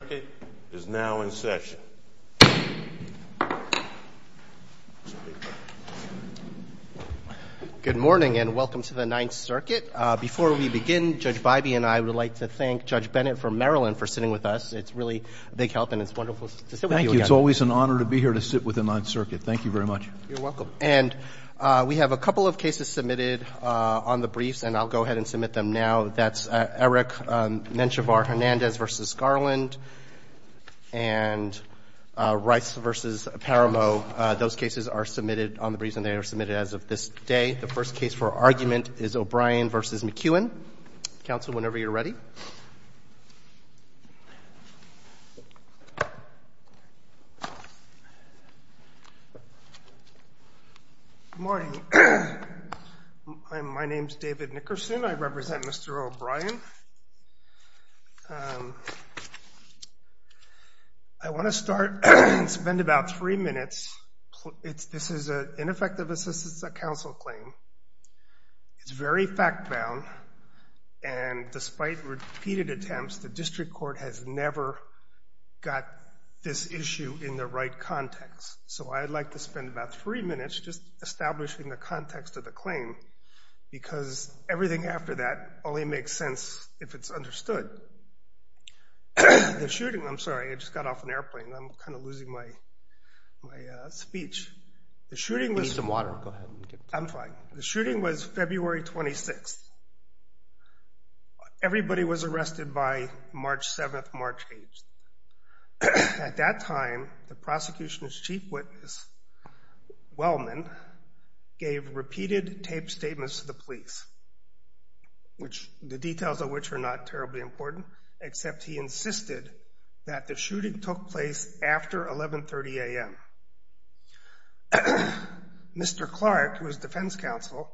The 9th Circuit is now in session. Good morning and welcome to the 9th Circuit. Before we begin, Judge Bybee and I would like to thank Judge Bennett from Maryland for sitting with us. It's really a big help and it's wonderful to sit with you again. Thank you. It's always an honor to be here to sit with him on circuit. Thank you very much. You're welcome. And we have a couple of cases submitted on the briefs and I'll go ahead and submit them now. That's Eric Menchivar-Hernandez v. Garland and Rice v. Paramo. Those cases are submitted on the briefs and they are submitted as of this day. The first case for argument is O'Brien v. McEwen. Counsel, whenever you're ready. Good morning. My name is David Nickerson. I represent Mr. O'Brien. I want to start and spend about three minutes. This is an ineffective assistance at counsel claim. It's very fact-bound and despite repeated attempts, the district court has never got this issue in the right context. So I'd like to spend about three minutes just establishing the context of the claim because everything after that only makes sense if it's understood. The shooting, I'm sorry, I just got off an airplane. I'm kind of losing my speech. You need some water. Go ahead. I'm fine. The shooting was February 26th. Everybody was arrested by March 7th, March 8th. At that time, the prosecution's chief witness, Wellman, gave repeated taped statements to the police, the details of which are not terribly important, except he insisted that the shooting took place after 1130 a.m. Mr. Clark, who was defense counsel,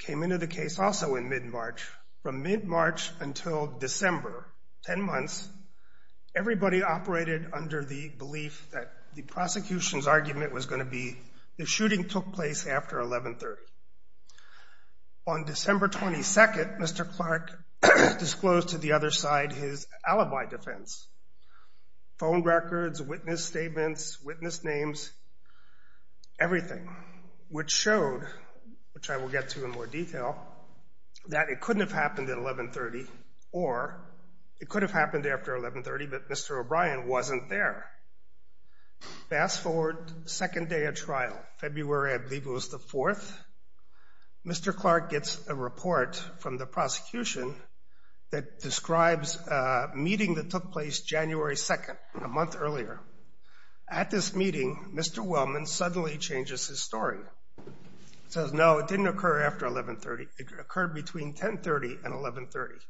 came into the case also in mid-March. From mid-March until December, 10 months, everybody operated under the belief that the prosecution's argument was going to be the shooting took place after 1130. On December 22nd, Mr. Clark disclosed to the other side his alibi defense, phone records, witness statements, witness names, everything, which showed, which I will get to in more detail, that it couldn't have happened at 1130, or it could have happened after 1130, but Mr. O'Brien wasn't there. Fast forward, second day of trial, February, I believe it was the 4th, Mr. Clark gets a report from the prosecution that describes a meeting that took place January 2nd, a month earlier. At this meeting, Mr. Wellman suddenly changes his story. He says, no, it didn't occur after 1130, it occurred between 1030 and 1130.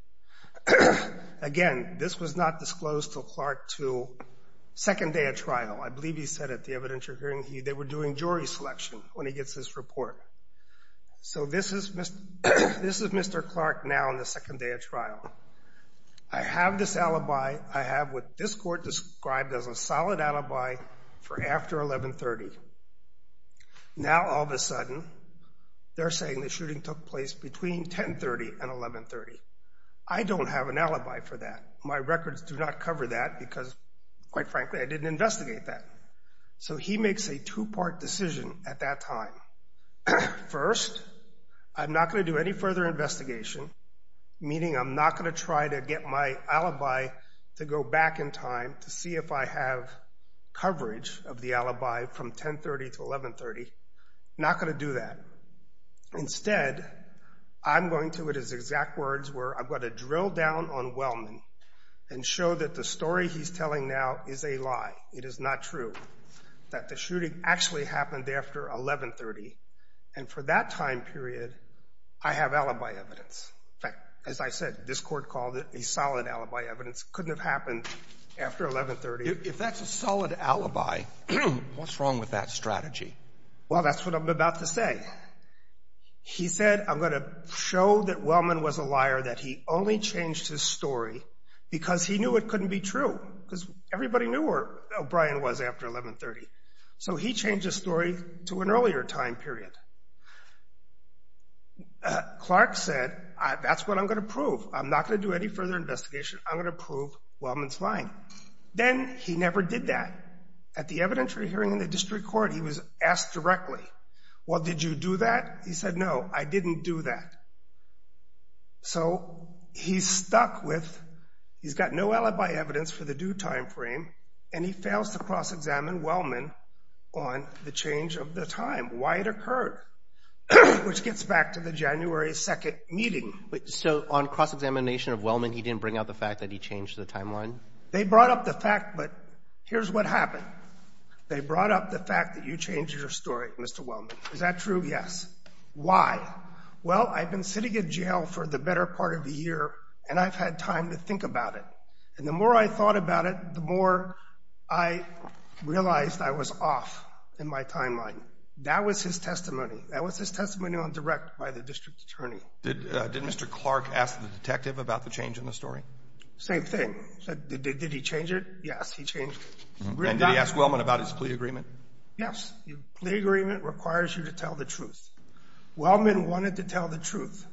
Again, this was not disclosed to Clark until second day of trial. I believe he said it, the evidence you're hearing, they were doing jury selection when he gets this report. So this is Mr. Clark now on the second day of trial. I have this alibi, I have what this court described as a solid alibi for after 1130. Now, all of a sudden, they're saying the shooting took place between 1030 and 1130. I don't have an alibi for that. My records do not cover that because, quite frankly, I didn't investigate that. So he makes a two-part decision at that time. First, I'm not going to do any further investigation, meaning I'm not going to try to get my alibi to go back in time to see if I have coverage of the alibi from 1030 to 1130. Not going to do that. Instead, I'm going to, in his exact words, where I'm going to drill down on Wellman and show that the story he's telling now is a lie. It is not true that the shooting actually happened after 1130. And for that time period, I have alibi evidence. In fact, as I said, this court called it a solid alibi evidence. Couldn't have happened after 1130. If that's a solid alibi, what's wrong with that strategy? Well, that's what I'm about to say. He said, I'm going to show that Wellman was a liar, that he only changed his story because he knew it couldn't be true because everybody knew where O'Brien was after 1130. So he changed his story to an earlier time period. Clark said, that's what I'm going to prove. I'm not going to do any further investigation. I'm going to prove Wellman's lying. Then he never did that. At the evidentiary hearing in the district court, he was asked directly, well, did you do that? He said, no, I didn't do that. So he's stuck with, he's got no alibi evidence for the due time frame, and he fails to cross-examine Wellman on the change of the time, why it occurred, which gets back to the January 2nd meeting. So on cross-examination of Wellman, he didn't bring out the fact that he changed the timeline? They brought up the fact, but here's what happened. They brought up the fact that you changed your story, Mr. Wellman. Is that true? Yes. Why? Well, I've been sitting in jail for the better part of a year, and I've had time to think about it. And the more I thought about it, the more I realized I was off in my timeline. That was his testimony. That was his testimony on direct by the district attorney. Did Mr. Clark ask the detective about the change in the story? Same thing. Did he change it? Yes, he changed it. And did he ask Wellman about his plea agreement? Yes. The plea agreement requires you to tell the truth. Wellman wanted to tell the truth.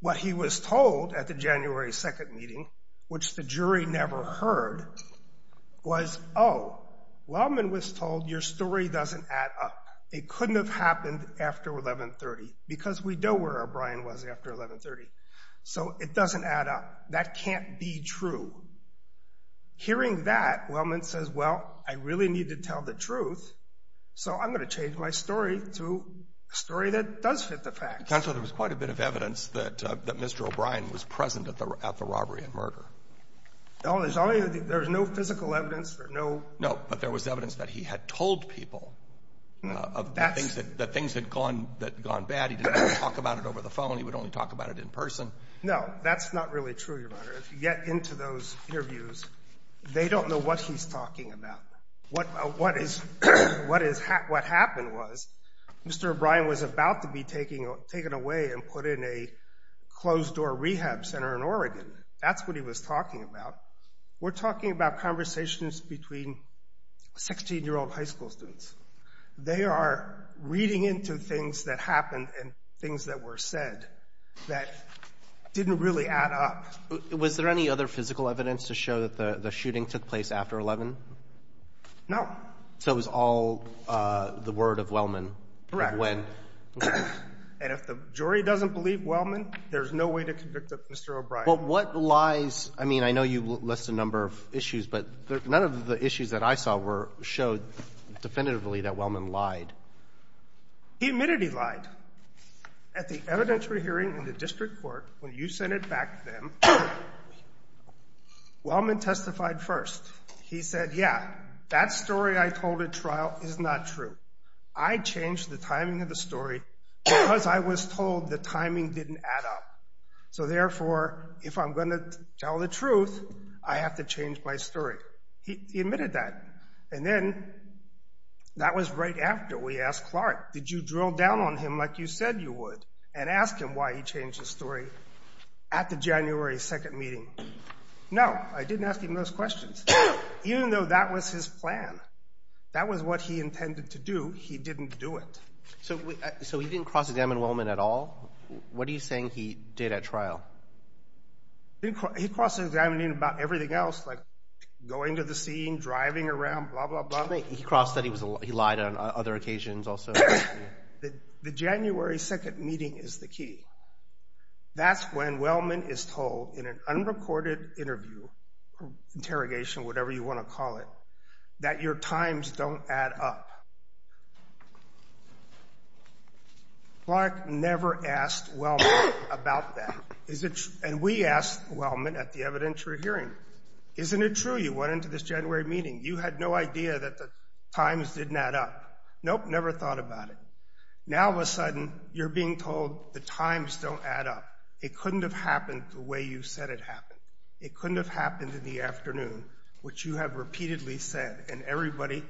What he was told at the January 2nd meeting, which the jury never heard, was, oh, Wellman was told your story doesn't add up. It couldn't have happened after 1130, because we know where O'Brien was after 1130. So it doesn't add up. That can't be true. Hearing that, Wellman says, well, I really need to tell the truth, so I'm going to change my story to a story that does fit the facts. Counselor, there was quite a bit of evidence that Mr. O'Brien was present at the robbery and murder. There was no physical evidence. No, but there was evidence that he had told people that things had gone bad. He didn't talk about it over the phone. He would only talk about it in person. No, that's not really true, Your Honor. If you get into those interviews, they don't know what he's talking about. What happened was Mr. O'Brien was about to be taken away and put in a closed-door rehab center in Oregon. That's what he was talking about. We're talking about conversations between 16-year-old high school students. They are reading into things that happened and things that were said that didn't really add up. Was there any other physical evidence to show that the shooting took place after 11? No. So it was all the word of Wellman of when? Correct. And if the jury doesn't believe Wellman, there's no way to convict Mr. O'Brien. But what lies? I mean, I know you list a number of issues, but none of the issues that I saw showed definitively that Wellman lied. He admitted he lied. At the evidentiary hearing in the district court, when you sent it back to them, Wellman testified first. He said, yeah, that story I told at trial is not true. I changed the timing of the story because I was told the timing didn't add up. So therefore, if I'm going to tell the truth, I have to change my story. He admitted that. And then that was right after we asked Clark, did you drill down on him like you said you would and ask him why he changed his story at the January 2nd meeting? No, I didn't ask him those questions, even though that was his plan. That was what he intended to do. He didn't do it. So he didn't cross-examine Wellman at all? What are you saying he did at trial? He crossed-examined him about everything else, like going to the scene, driving around, blah, blah, blah. He crossed that he lied on other occasions also. The January 2nd meeting is the key. That's when Wellman is told in an unrecorded interview, interrogation, whatever you want to call it, that your times don't add up. Clark never asked Wellman about that. And we asked Wellman at the evidentiary hearing, isn't it true you went into this January meeting, you had no idea that the times didn't add up? Nope, never thought about it. Now, all of a sudden, you're being told the times don't add up. It couldn't have happened the way you said it happened. It couldn't have happened in the afternoon, which you have repeatedly said, and everybody,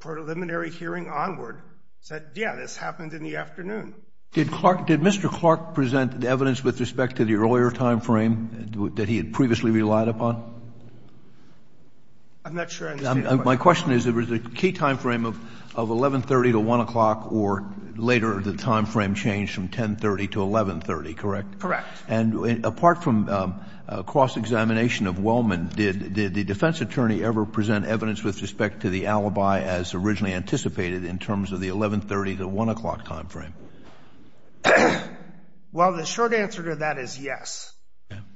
preliminary hearing onward, said, yeah, this happened in the afternoon. Did Mr. Clark present evidence with respect to the earlier time frame that he had previously relied upon? I'm not sure. My question is, there was a key time frame of 1130 to 1 o'clock, or later the time frame changed from 1030 to 1130, correct? Correct. And apart from cross-examination of Wellman, did the defense attorney ever present evidence with respect to the alibi as originally anticipated in terms of the 1130 to 1 o'clock time frame? Well, the short answer to that is yes.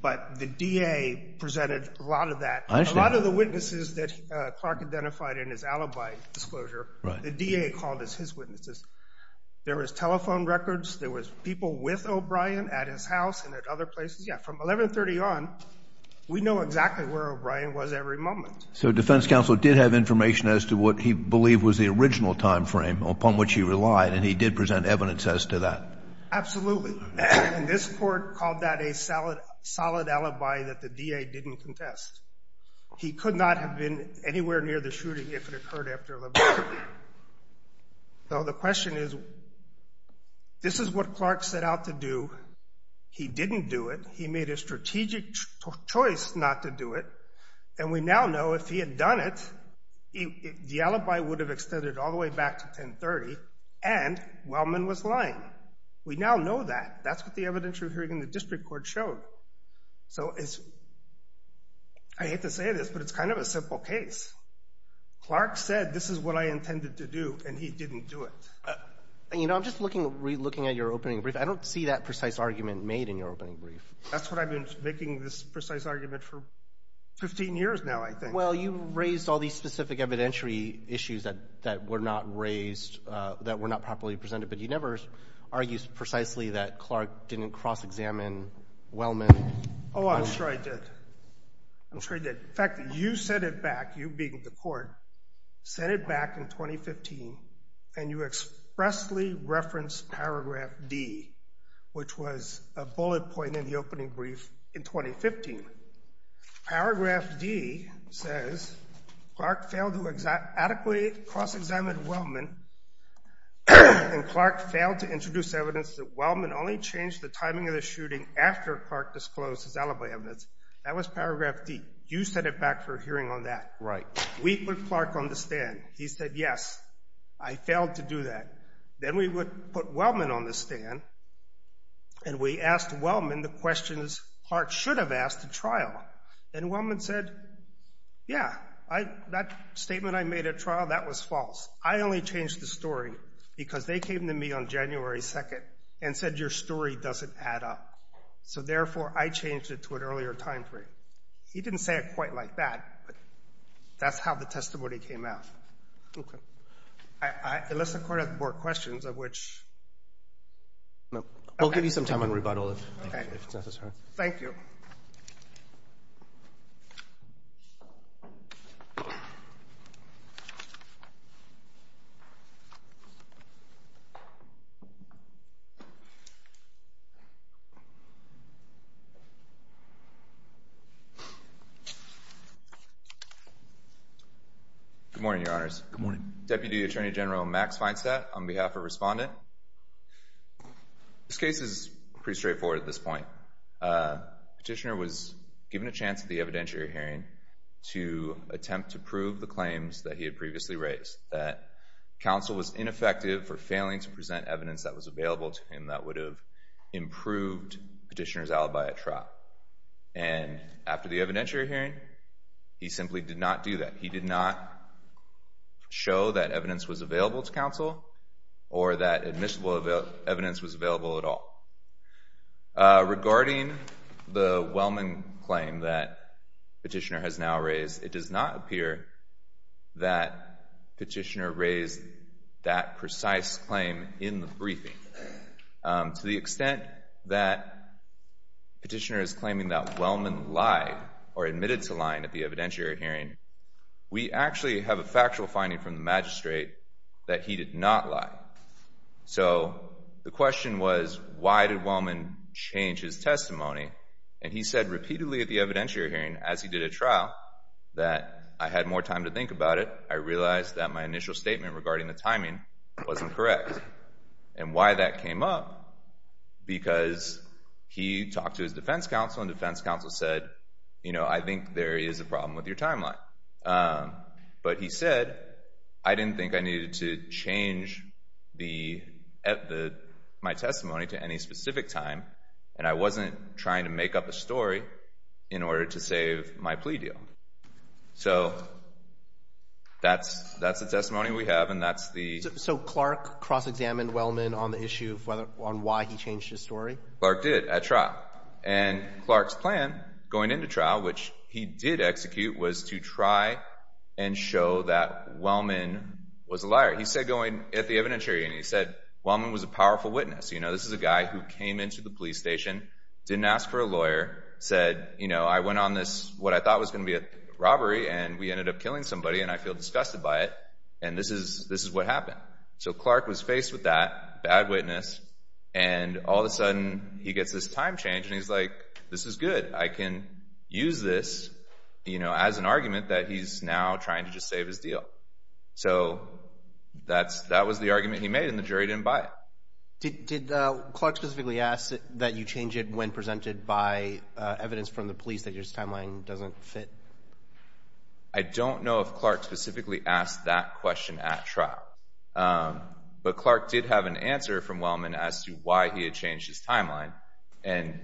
But the DA presented a lot of that. A lot of the witnesses that Clark identified in his alibi disclosure, the DA called as his witnesses. There was telephone records. There was people with O'Brien at his house and at other places. Yeah, from 1130 on, we know exactly where O'Brien was every moment. So defense counsel did have information as to what he believed was the original time frame upon which he relied, and he did present evidence as to that? Absolutely. And this court called that a solid alibi that the DA didn't contest. He could not have been anywhere near the shooting if it occurred after 1130. So the question is, this is what Clark set out to do. He didn't do it. He made a strategic choice not to do it, and we now know if he had done it, the alibi would have extended all the way back to 1030, and Wellman was lying. We now know that. That's what the evidence we're hearing in the district court showed. So it's, I hate to say this, but it's kind of a simple case. Clark said, this is what I intended to do, and he didn't do it. You know, I'm just looking at your opening brief. I don't see that precise argument made in your opening brief. That's what I've been making this precise argument for 15 years now, I think. Well, you raised all these specific evidentiary issues that were not raised, that were not properly presented, but you never argued precisely that Clark didn't cross-examine Wellman. I'm sure I did. In fact, you said it back, you being the court, said it back in 2015, and you expressly referenced paragraph D, which was a bullet point in the opening brief in 2015. Paragraph D says Clark failed to adequately cross-examine Wellman, and Clark failed to introduce evidence that Wellman only changed the timing of the shooting after Clark disclosed his alibi evidence. That was paragraph D. You said it back for hearing on that. Right. We put Clark on the stand. He said, yes, I failed to do that. Then we would put Wellman on the stand, and we asked Wellman the questions Clark should have asked at trial. And Wellman said, yeah, that statement I made at trial, that was false. I only changed the story because they came to me on January 2nd and said, your story doesn't add up. So, therefore, I changed it to an earlier time frame. He didn't say it quite like that, but that's how the testimony came out. Okay. Unless the Court has more questions, of which no. I'll give you some time on rebuttal if necessary. Thank you. Good morning, Your Honors. Good morning. Deputy Attorney General Max Feinstadt on behalf of Respondent. This case is pretty straightforward at this point. Petitioner was given a chance at the evidentiary hearing to attempt to prove the claims that he had previously raised, that counsel was ineffective for failing to present evidence that was available to him that would have improved Petitioner's alibi at trial. And after the evidentiary hearing, he simply did not do that. He did not show that evidence was available to counsel or that admissible evidence was available at all. Regarding the Wellman claim that Petitioner has now raised, it does not appear that Petitioner raised that precise claim in the briefing. To the extent that Petitioner is claiming that Wellman lied or admitted to lying at the evidentiary hearing, we actually have a factual finding from the magistrate that he did not lie. So the question was, why did Wellman change his testimony? And he said repeatedly at the evidentiary hearing, as he did at trial, that I had more time to think about it. I realized that my initial statement regarding the timing wasn't correct. And why that came up? Because he talked to his defense counsel, and defense counsel said, you know, I think there is a problem with your timeline. But he said, I didn't think I needed to change my testimony to any specific time, and I wasn't trying to make up a story in order to save my plea deal. So that's the testimony we have, and that's the— So Clark cross-examined Wellman on the issue of why he changed his story? Clark did at trial. And Clark's plan going into trial, which he did execute, was to try and show that Wellman was a liar. He said going at the evidentiary hearing, he said Wellman was a powerful witness. You know, this is a guy who came into the police station, didn't ask for a lawyer, said, you know, I went on this, what I thought was going to be a robbery, and we ended up killing somebody, and I feel disgusted by it, and this is what happened. So Clark was faced with that, bad witness, and all of a sudden he gets this time change, and he's like, this is good. I can use this, you know, as an argument that he's now trying to just save his deal. So that was the argument he made, and the jury didn't buy it. Did Clark specifically ask that you change it when presented by evidence from the police that his timeline doesn't fit? I don't know if Clark specifically asked that question at trial, but Clark did have an answer from Wellman as to why he had changed his timeline, and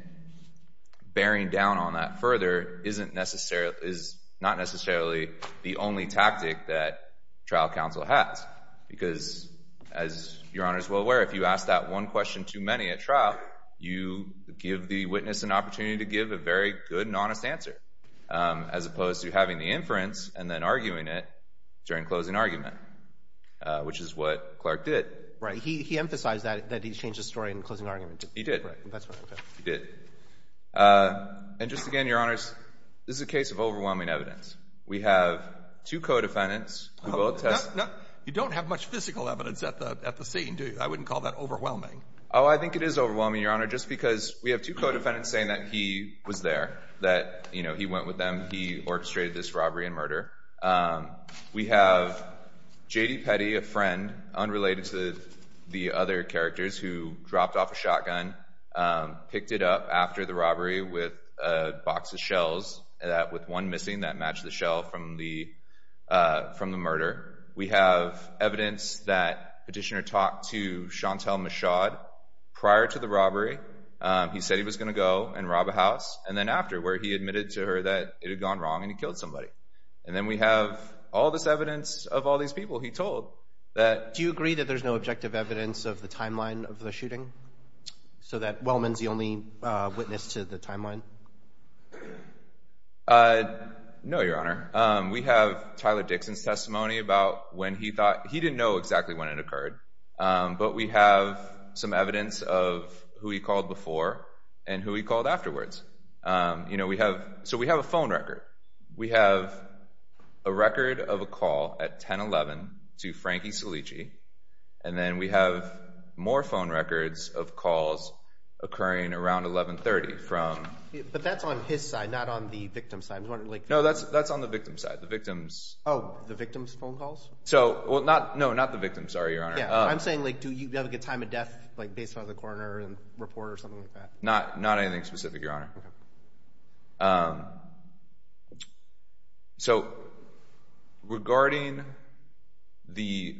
bearing down on that further is not necessarily the only tactic that trial counsel has, because as Your Honor is well aware, if you ask that one question too many at trial, you give the witness an opportunity to give a very good and honest answer, as opposed to having the inference and then arguing it during closing argument, which is what Clark did. Right. He emphasized that he changed his story in closing argument. He did. He did. And just again, Your Honors, this is a case of overwhelming evidence. We have two co-defendants. You don't have much physical evidence at the scene, do you? I wouldn't call that overwhelming. Oh, I think it is overwhelming, Your Honor, just because we have two co-defendants saying that he was there, that, you know, he went with them, he orchestrated this robbery and murder. We have J.D. Petty, a friend, unrelated to the other characters, who dropped off a shotgun, picked it up after the robbery with a box of shells, with one missing that matched the shell from the murder. We have evidence that Petitioner talked to Chantal Michaud prior to the robbery. He said he was going to go and rob a house, and then after, where he admitted to her that it had gone wrong and he killed somebody. And then we have all this evidence of all these people he told. Do you agree that there's no objective evidence of the timeline of the shooting, so that Wellman's the only witness to the timeline? No, Your Honor. We have Tyler Dixon's testimony about when he thought—he didn't know exactly when it occurred. But we have some evidence of who he called before and who he called afterwards. You know, we have—so we have a phone record. We have a record of a call at 10-11 to Frankie Cilici, and then we have more phone records of calls occurring around 11-30 from— But that's on his side, not on the victim's side. No, that's on the victim's side. The victim's— Oh, the victim's phone calls? So—well, not—no, not the victim's, sorry, Your Honor. Yeah, I'm saying, like, do you have, like, a time of death, like, based on the coroner and report or something like that? Not anything specific, Your Honor. So, regarding the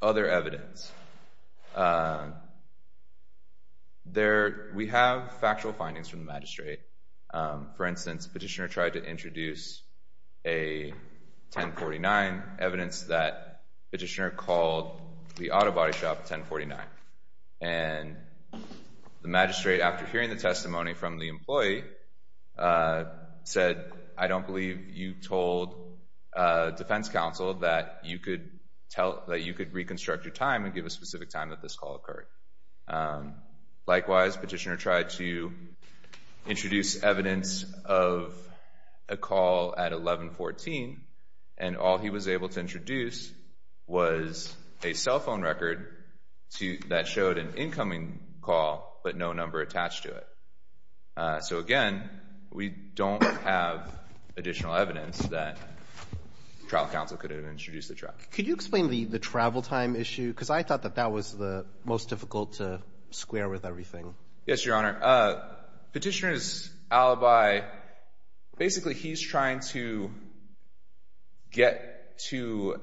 other evidence, there—we have factual findings from the magistrate. For instance, the petitioner tried to introduce a 10-49, evidence that the petitioner called the auto body shop 10-49. And the magistrate, after hearing the testimony from the employee, said, I don't believe you told defense counsel that you could tell—that you could reconstruct your time and give a specific time that this call occurred. Likewise, petitioner tried to introduce evidence of a call at 11-14, and all he was able to introduce was a cell phone record to—that showed an incoming call, but no number attached to it. So, again, we don't have additional evidence that trial counsel could have introduced the truck. Could you explain the travel time issue? Because I thought that that was the most difficult to square with everything. Yes, Your Honor. Petitioner's alibi—basically, he's trying to get to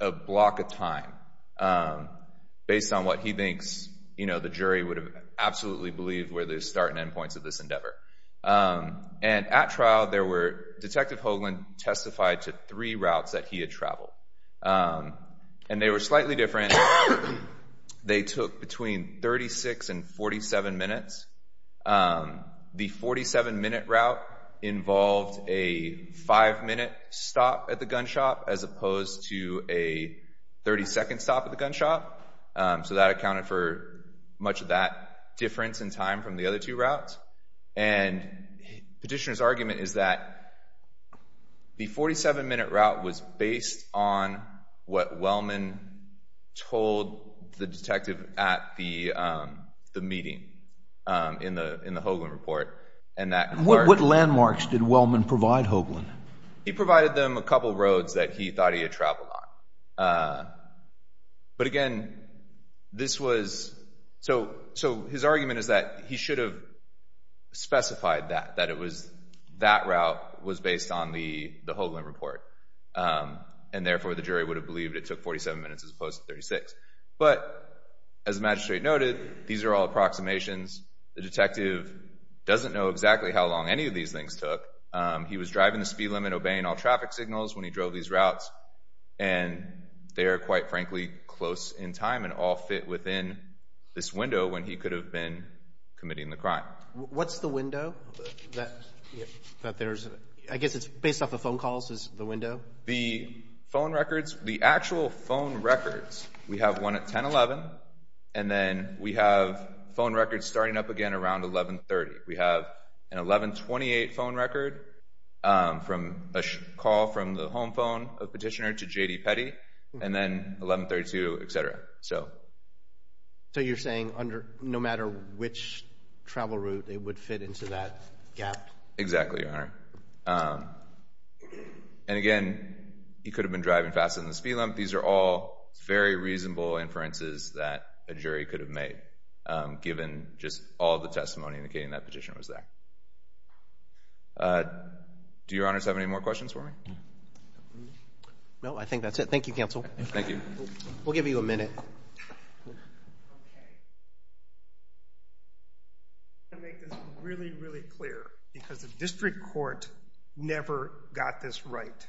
a block of time based on what he thinks, you know, the jury would have absolutely believed were the start and end points of this endeavor. And at trial, there were—Detective Hoagland testified to three routes that he had traveled. And they were slightly different. They took between 36 and 47 minutes. The 47-minute route involved a five-minute stop at the gun shop as opposed to a 30-second stop at the gun shop. So that accounted for much of that difference in time from the other two routes. And petitioner's argument is that the 47-minute route was based on what Wellman told the detective at the meeting in the Hoagland report. What landmarks did Wellman provide Hoagland? He provided them a couple roads that he thought he had traveled on. But again, this was—so his argument is that he should have specified that, that it was—that route was based on the Hoagland report. And therefore, the jury would have believed it took 47 minutes as opposed to 36. But as the magistrate noted, these are all approximations. The detective doesn't know exactly how long any of these things took. He was driving the speed limit, obeying all traffic signals when he drove these routes. And they are, quite frankly, close in time and all fit within this window when he could have been committing the crime. What's the window that there's—I guess it's based off of phone calls is the window? The phone records—the actual phone records, we have one at 10-11, and then we have phone records starting up again around 11-30. We have an 11-28 phone record from a call from the home phone of Petitioner to J.D. Petty, and then 11-32, et cetera. So you're saying under—no matter which travel route, it would fit into that gap? Exactly, Your Honor. And again, he could have been driving faster than the speed limit. These are all very reasonable inferences that a jury could have made, given just all the testimony indicating that Petitioner was there. Do Your Honors have any more questions for me? No, I think that's it. Thank you, Counsel. Thank you. We'll give you a minute. I want to make this really, really clear, because the district court never got this right.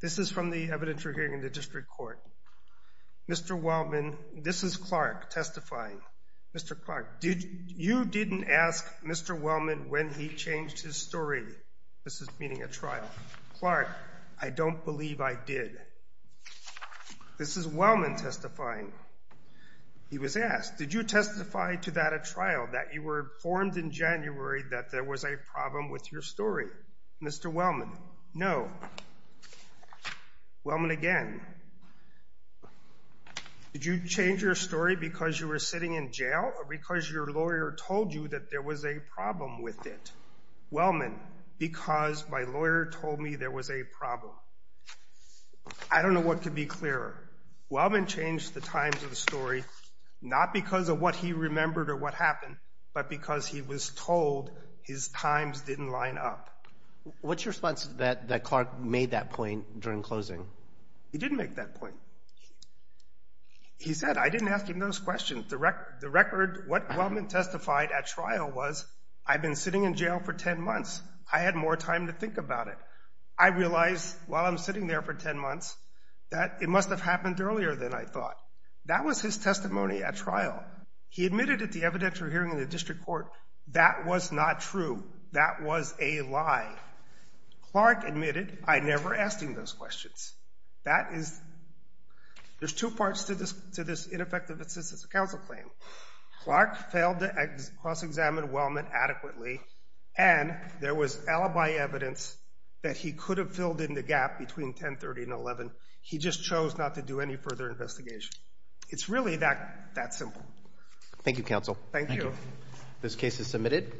This is from the evidence we're hearing in the district court. Mr. Wellman—this is Clark testifying. Mr. Clark, you didn't ask Mr. Wellman when he changed his story. This is meaning a trial. Clark, I don't believe I did. This is Wellman testifying. He was asked, did you testify to that at trial, that you were informed in January that there was a problem with your story? Mr. Wellman, no. Wellman again, did you change your story because you were sitting in jail or because your lawyer told you that there was a problem with it? Wellman, because my lawyer told me there was a problem. I don't know what could be clearer. Wellman changed the times of the story not because of what he remembered or what happened, but because he was told his times didn't line up. What's your response that Clark made that point during closing? He didn't make that point. He said, I didn't ask him those questions. The record—what Wellman testified at trial was, I've been sitting in jail for 10 months. I had more time to think about it. I realized while I'm sitting there for 10 months that it must have happened earlier than I thought. That was his testimony at trial. He admitted at the evidentiary hearing in the district court that was not true. That was a lie. Clark admitted, I never asked him those questions. That is—there's two parts to this ineffective assistance of counsel claim. Clark failed to cross-examine Wellman adequately, and there was alibi evidence that he could have filled in the gap between 1030 and 11. He just chose not to do any further investigation. It's really that simple. Thank you, counsel. Thank you. This case is submitted.